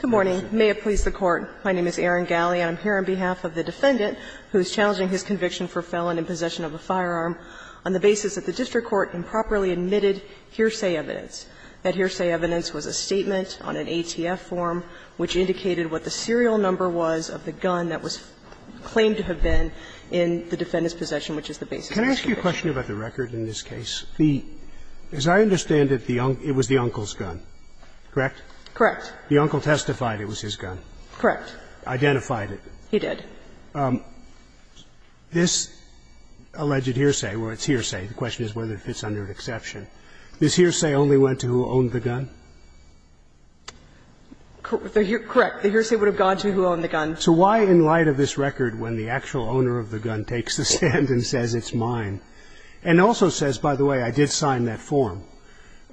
Good morning. May it please the Court, my name is Erin Gally and I'm here on behalf of the defendant who is challenging his conviction for felon in possession of a firearm on the basis that the district court improperly admitted hearsay evidence. That hearsay evidence was a statement on an ATF form which indicated what the serial number was of the gun that was claimed to have been in the defendant's possession, which is the basis of conviction. Can I ask you a question about the record in this case? The – as I understand it, it was the uncle's gun, correct? Correct. The uncle testified it was his gun. Correct. Identified it. He did. This alleged hearsay, well, it's hearsay, the question is whether it fits under an exception, this hearsay only went to who owned the gun? Correct. The hearsay would have gone to who owned the gun. So why in light of this record, when the actual owner of the gun takes the stand and says it's mine, and also says, by the way, I did sign that form,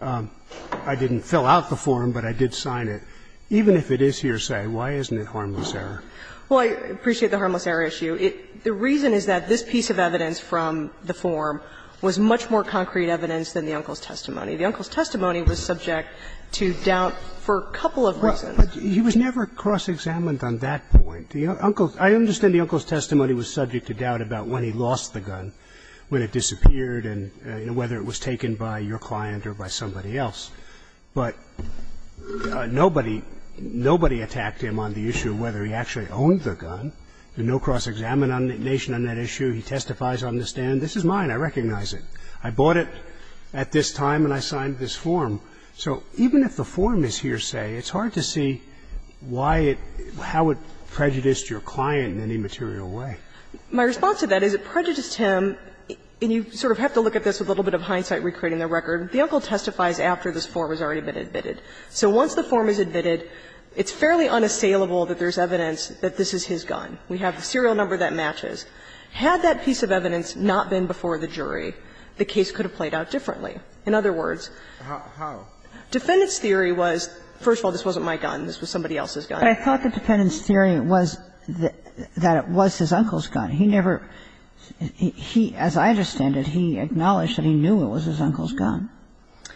I didn't fill out the form, but I did sign it, even if it is hearsay, why isn't it harmless error? Well, I appreciate the harmless error issue. The reason is that this piece of evidence from the form was much more concrete evidence than the uncle's testimony. The uncle's testimony was subject to doubt for a couple of reasons. But he was never cross-examined on that point. The uncle's – I understand the uncle's testimony was subject to doubt about when he lost the gun, when it disappeared, and whether it was taken by your client or by somebody else. But nobody – nobody attacked him on the issue of whether he actually owned the gun. There's no cross-examination on that issue. He testifies on the stand, this is mine, I recognize it. I bought it at this time and I signed this form. So even if the form is hearsay, it's hard to see why it – how it prejudiced your client in any material way. My response to that is it prejudiced him, and you sort of have to look at this with a little bit of hindsight recreating the record. The uncle testifies after this form has already been admitted. So once the form is admitted, it's fairly unassailable that there's evidence that this is his gun. We have the serial number that matches. Had that piece of evidence not been before the jury, the case could have played out differently. In other words, defendants' theory was, first of all, this wasn't my gun, this was somebody else's gun. Kagan. Kagan. Kagan. But I thought the defendants' theory was that it was his uncle's gun. He never – he, as I understand it, he acknowledged that he knew it was his uncle's gun.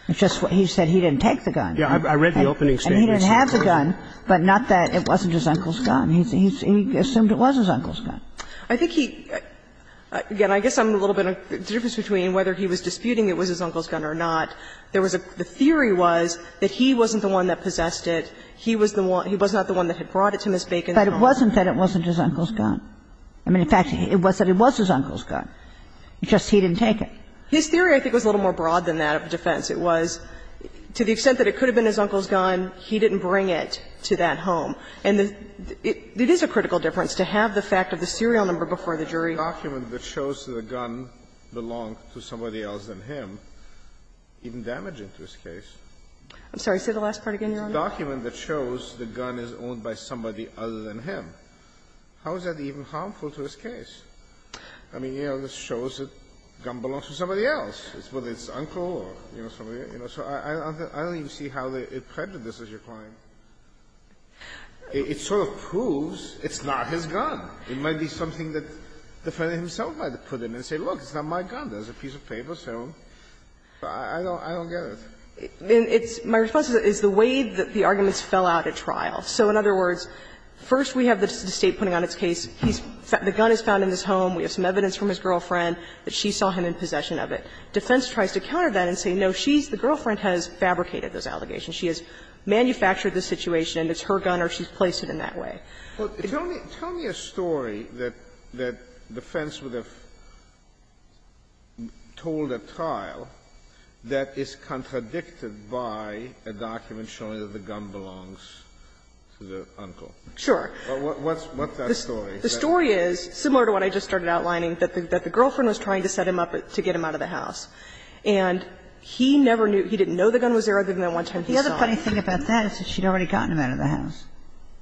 It's just he said he didn't take the gun. And he didn't have the gun, but not that it wasn't his uncle's gun. He assumed it was his uncle's gun. I think he – again, I guess I'm a little bit – the difference between whether he was disputing it was his uncle's gun or not, there was a – the theory was that he wasn't the one that possessed it. He was the one – he was not the one that had brought it to Ms. Bacon. But it wasn't that it wasn't his uncle's gun. I mean, in fact, it was that it was his uncle's gun. It's just he didn't take it. His theory, I think, was a little more broad than that of defense. It was, to the extent that it could have been his uncle's gun, he didn't bring it to that home. And it is a critical difference to have the fact of the serial number before the jury. Sotomayor, document that shows that the gun belonged to somebody else than him, even damaging to his case. I'm sorry. Say the last part again, Your Honor. It's a document that shows the gun is owned by somebody other than him. How is that even harmful to his case? I mean, you know, this shows that the gun belongs to somebody else, whether it's his uncle or, you know, somebody else. I don't even see how it prejudices your client. It sort of proves it's not his gun. It might be something that the defendant himself might put in and say, look, it's not my gun. There's a piece of paper, so I don't get it. It's – my response is the way that the arguments fell out at trial. So in other words, first we have the State putting on its case, he's – the gun is found in his home, we have some evidence from his girlfriend that she saw him in possession of it. Defense tries to counter that and say, no, she's – the girlfriend has fabricated those allegations. She has manufactured the situation, it's her gun or she's placed it in that way. Tell me – tell me a story that defense would have told at trial that is contradicted by a document showing that the gun belongs to the uncle. Sure. What's that story? The story is similar to what I just started outlining, that the girlfriend was trying to set him up to get him out of the house, and he never knew – he didn't know the gun was there other than the one time he saw it. The other funny thing about that is that she had already gotten him out of the house,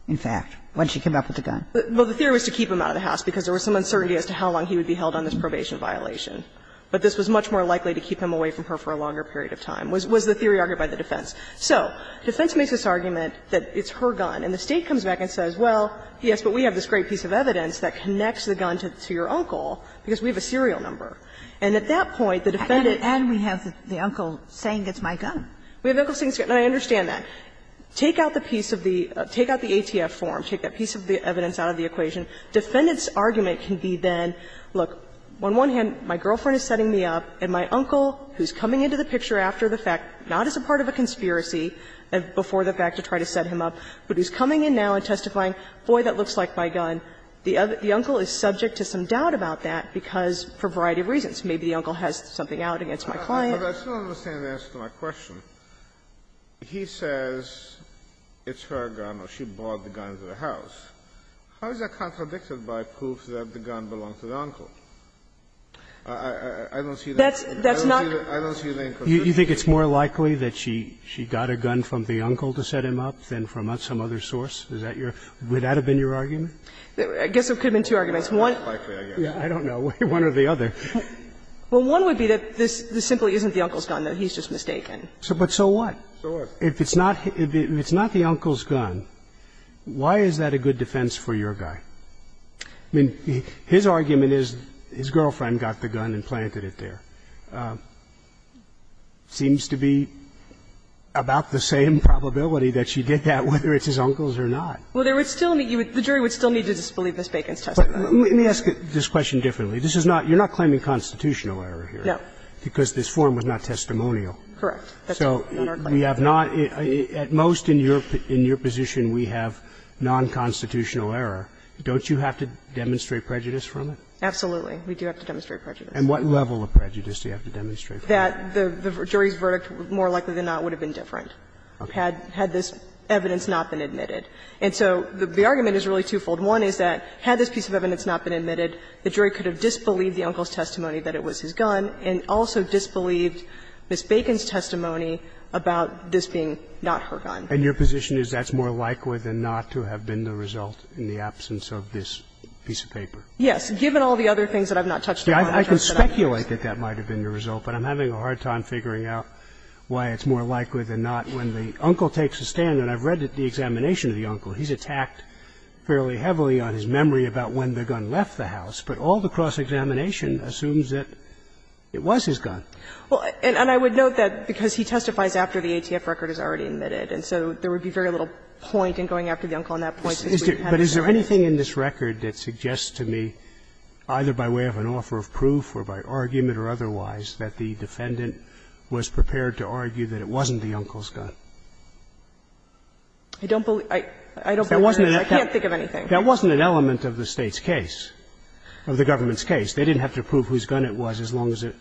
in fact, when she came up with the gun. Well, the theory was to keep him out of the house because there was some uncertainty as to how long he would be held on this probation violation. But this was much more likely to keep him away from her for a longer period of time was the theory argued by the defense. So defense makes this argument that it's her gun, and the State comes back and says, well, yes, but we have this great piece of evidence that connects the gun to your uncle, because we have a serial number. And at that point, the defendant – And we have the uncle saying it's my gun. We have the uncle saying it's his gun, and I understand that. Take out the piece of the – take out the ATF form. Take that piece of the evidence out of the equation. Defendant's argument can be then, look, on one hand, my girlfriend is setting me up, and my uncle, who's coming into the picture after the fact, not as a part of a conspiracy, before the fact to try to set him up, but who's coming in now and testifying, boy, that looks like my gun. The uncle is subject to some doubt about that because, for a variety of reasons, maybe the uncle has something out against my client. But I still don't understand the answer to my question. He says it's her gun or she brought the gun to the house. How is that contradicted by proof that the gun belonged to the uncle? I don't see the inconsistency here. That's not – I don't see the inconsistency here. You think it's more likely that she got a gun from the uncle to set him up than from some other source? Is that your – would that have been your argument? I guess it could have been two arguments. One – I don't know. One or the other. Well, one would be that this simply isn't the uncle's gun, that he's just mistaken. But so what? So what? If it's not the uncle's gun, why is that a good defense for your guy? I mean, his argument is his girlfriend got the gun and planted it there. Seems to be about the same probability that she did that, whether it's his uncle's gun or not. Well, there would still be – the jury would still need to disbelieve Ms. Bacon's testimony. Let me ask this question differently. This is not – you're not claiming constitutional error here. No. Because this form was not testimonial. Correct. So we have not – at most in your position we have nonconstitutional error. Don't you have to demonstrate prejudice from it? Absolutely. We do have to demonstrate prejudice. And what level of prejudice do you have to demonstrate from it? That the jury's verdict, more likely than not, would have been different had this evidence not been admitted. And so the argument is really twofold. One is that had this piece of evidence not been admitted, the jury could have disbelieved the uncle's testimony that it was his gun and also disbelieved Ms. Bacon's testimony about this being not her gun. And your position is that's more likely than not to have been the result in the absence of this piece of paper? Yes. Given all the other things that I've not touched on. I can speculate that that might have been the result, but I'm having a hard time figuring out why it's more likely than not. When the uncle takes a stand, and I've read the examination of the uncle, he's attacked fairly heavily on his memory about when the gun left the house, but all the cross-examination assumes that it was his gun. Well, and I would note that because he testifies after the ATF record is already admitted, and so there would be very little point in going after the uncle on that point. But is there anything in this record that suggests to me, either by way of an offer of proof or by argument or otherwise, that the defendant was prepared to argue that it wasn't the uncle's gun? I don't believe that. I can't think of anything. That wasn't an element of the State's case, of the government's case. They didn't have to prove whose gun it was as long as it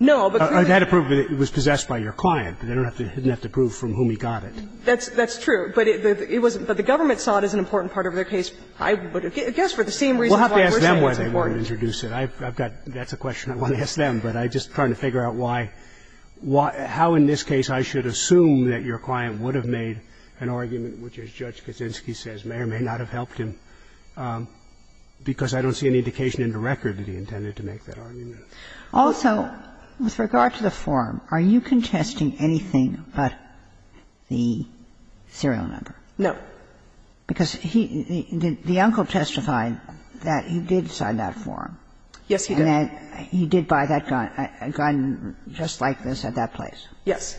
was possessed by your client. They didn't have to prove from whom he got it. That's true. But the government saw it as an important part of their case. I would guess for the same reason why we're saying it's important. We'll have to ask them why they wouldn't introduce it. I've got to ask them. But I'm just trying to figure out why – how in this case I should assume that your client would have made an argument which, as Judge Kaczynski says, may or may not have helped him, because I don't see any indication in the record that he intended to make that argument. Also, with regard to the form, are you contesting anything but the serial number? No. Because he – the uncle testified that he did sign that form. Yes, he did. And that he did buy that gun, a gun just like this at that place? Yes.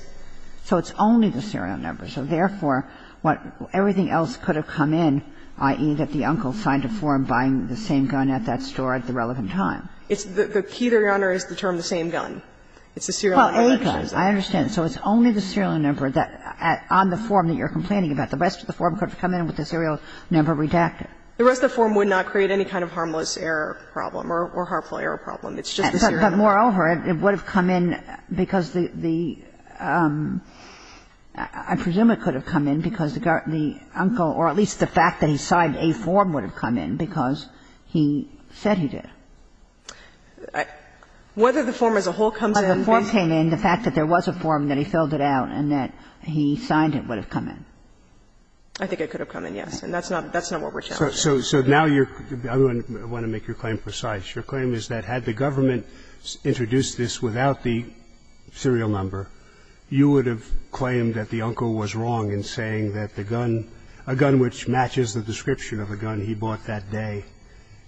So it's only the serial number. So therefore, what – everything else could have come in, i.e., that the uncle signed a form buying the same gun at that store at the relevant time. It's the – the key, Your Honor, is the term the same gun. It's the serial number that says that. Well, A-guns, I understand. So it's only the serial number on the form that you're complaining about. The rest of the form could have come in with the serial number redacted. The rest of the form would not create any kind of harmless error problem or harmful error problem. It's just the serial number. But moreover, it would have come in because the – I presume it could have come in because the uncle, or at least the fact that he signed a form would have come in because he said he did. Whether the form as a whole comes in, the fact that there was a form, that he filled it out, and that he signed it would have come in. I think it could have come in, yes. And that's not what we're challenging. So now you're – I want to make your claim precise. Your claim is that had the government introduced this without the serial number, you would have claimed that the uncle was wrong in saying that the gun, a gun which matches the description of a gun he bought that day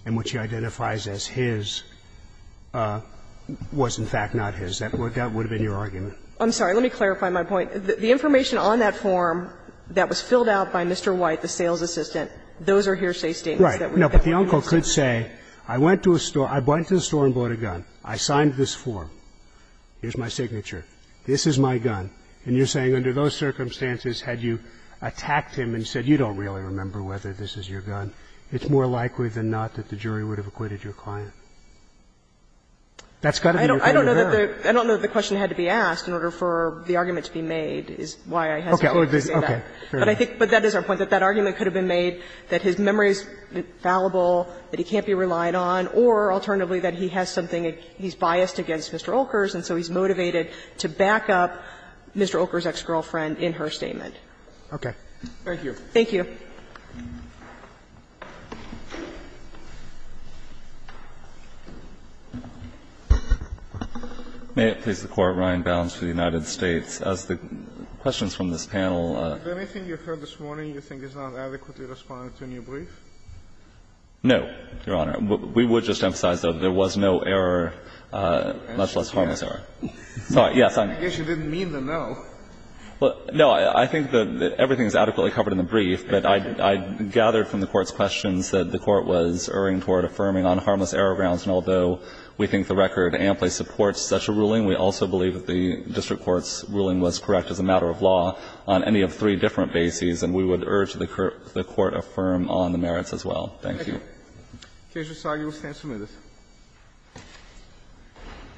and which he identifies as his was in fact not his. That would have been your argument. I'm sorry. Let me clarify my point. The information on that form that was filled out by Mr. White, the sales assistant, those are hearsay statements that we definitely want to hear. Right. No, but the uncle could say, I went to a store – I went to the store and bought a gun, I signed this form, here's my signature, this is my gun. And you're saying under those circumstances, had you attacked him and said, you don't really remember whether this is your gun, it's more likely than not that the jury would have acquitted your client. That's got to be your point of error. I don't know that the – I don't know that the question had to be asked in order for the argument to be made is why I hesitate to say that. Okay. Fair enough. But I think – but that is our point, that that argument could have been made that his memory is fallible, that he can't be relied on, or alternatively, that he has something – he's biased against Mr. Olkers, and so he's motivated to back up Mr. Olkers' ex-girlfriend in her statement. Okay. Thank you. Thank you. May it please the Court, Ryan Bounds for the United States. As the questions from this panel – Anything you heard this morning you think is not adequately responding to a new brief? No, Your Honor. We would just emphasize, though, there was no error, much less harmless error. Yes, I'm – I guess you didn't mean the no. Well, no, I think that everything is adequately covered in the brief, but I gathered from the Court's questions that the Court was erring toward affirming on harmless We also believe that the district court's ruling was correct as a matter of law on any of three different bases, and we would urge that the Court affirm on the merits as well. Thank you. Thank you. Casual, sorry. We'll stand some minutes.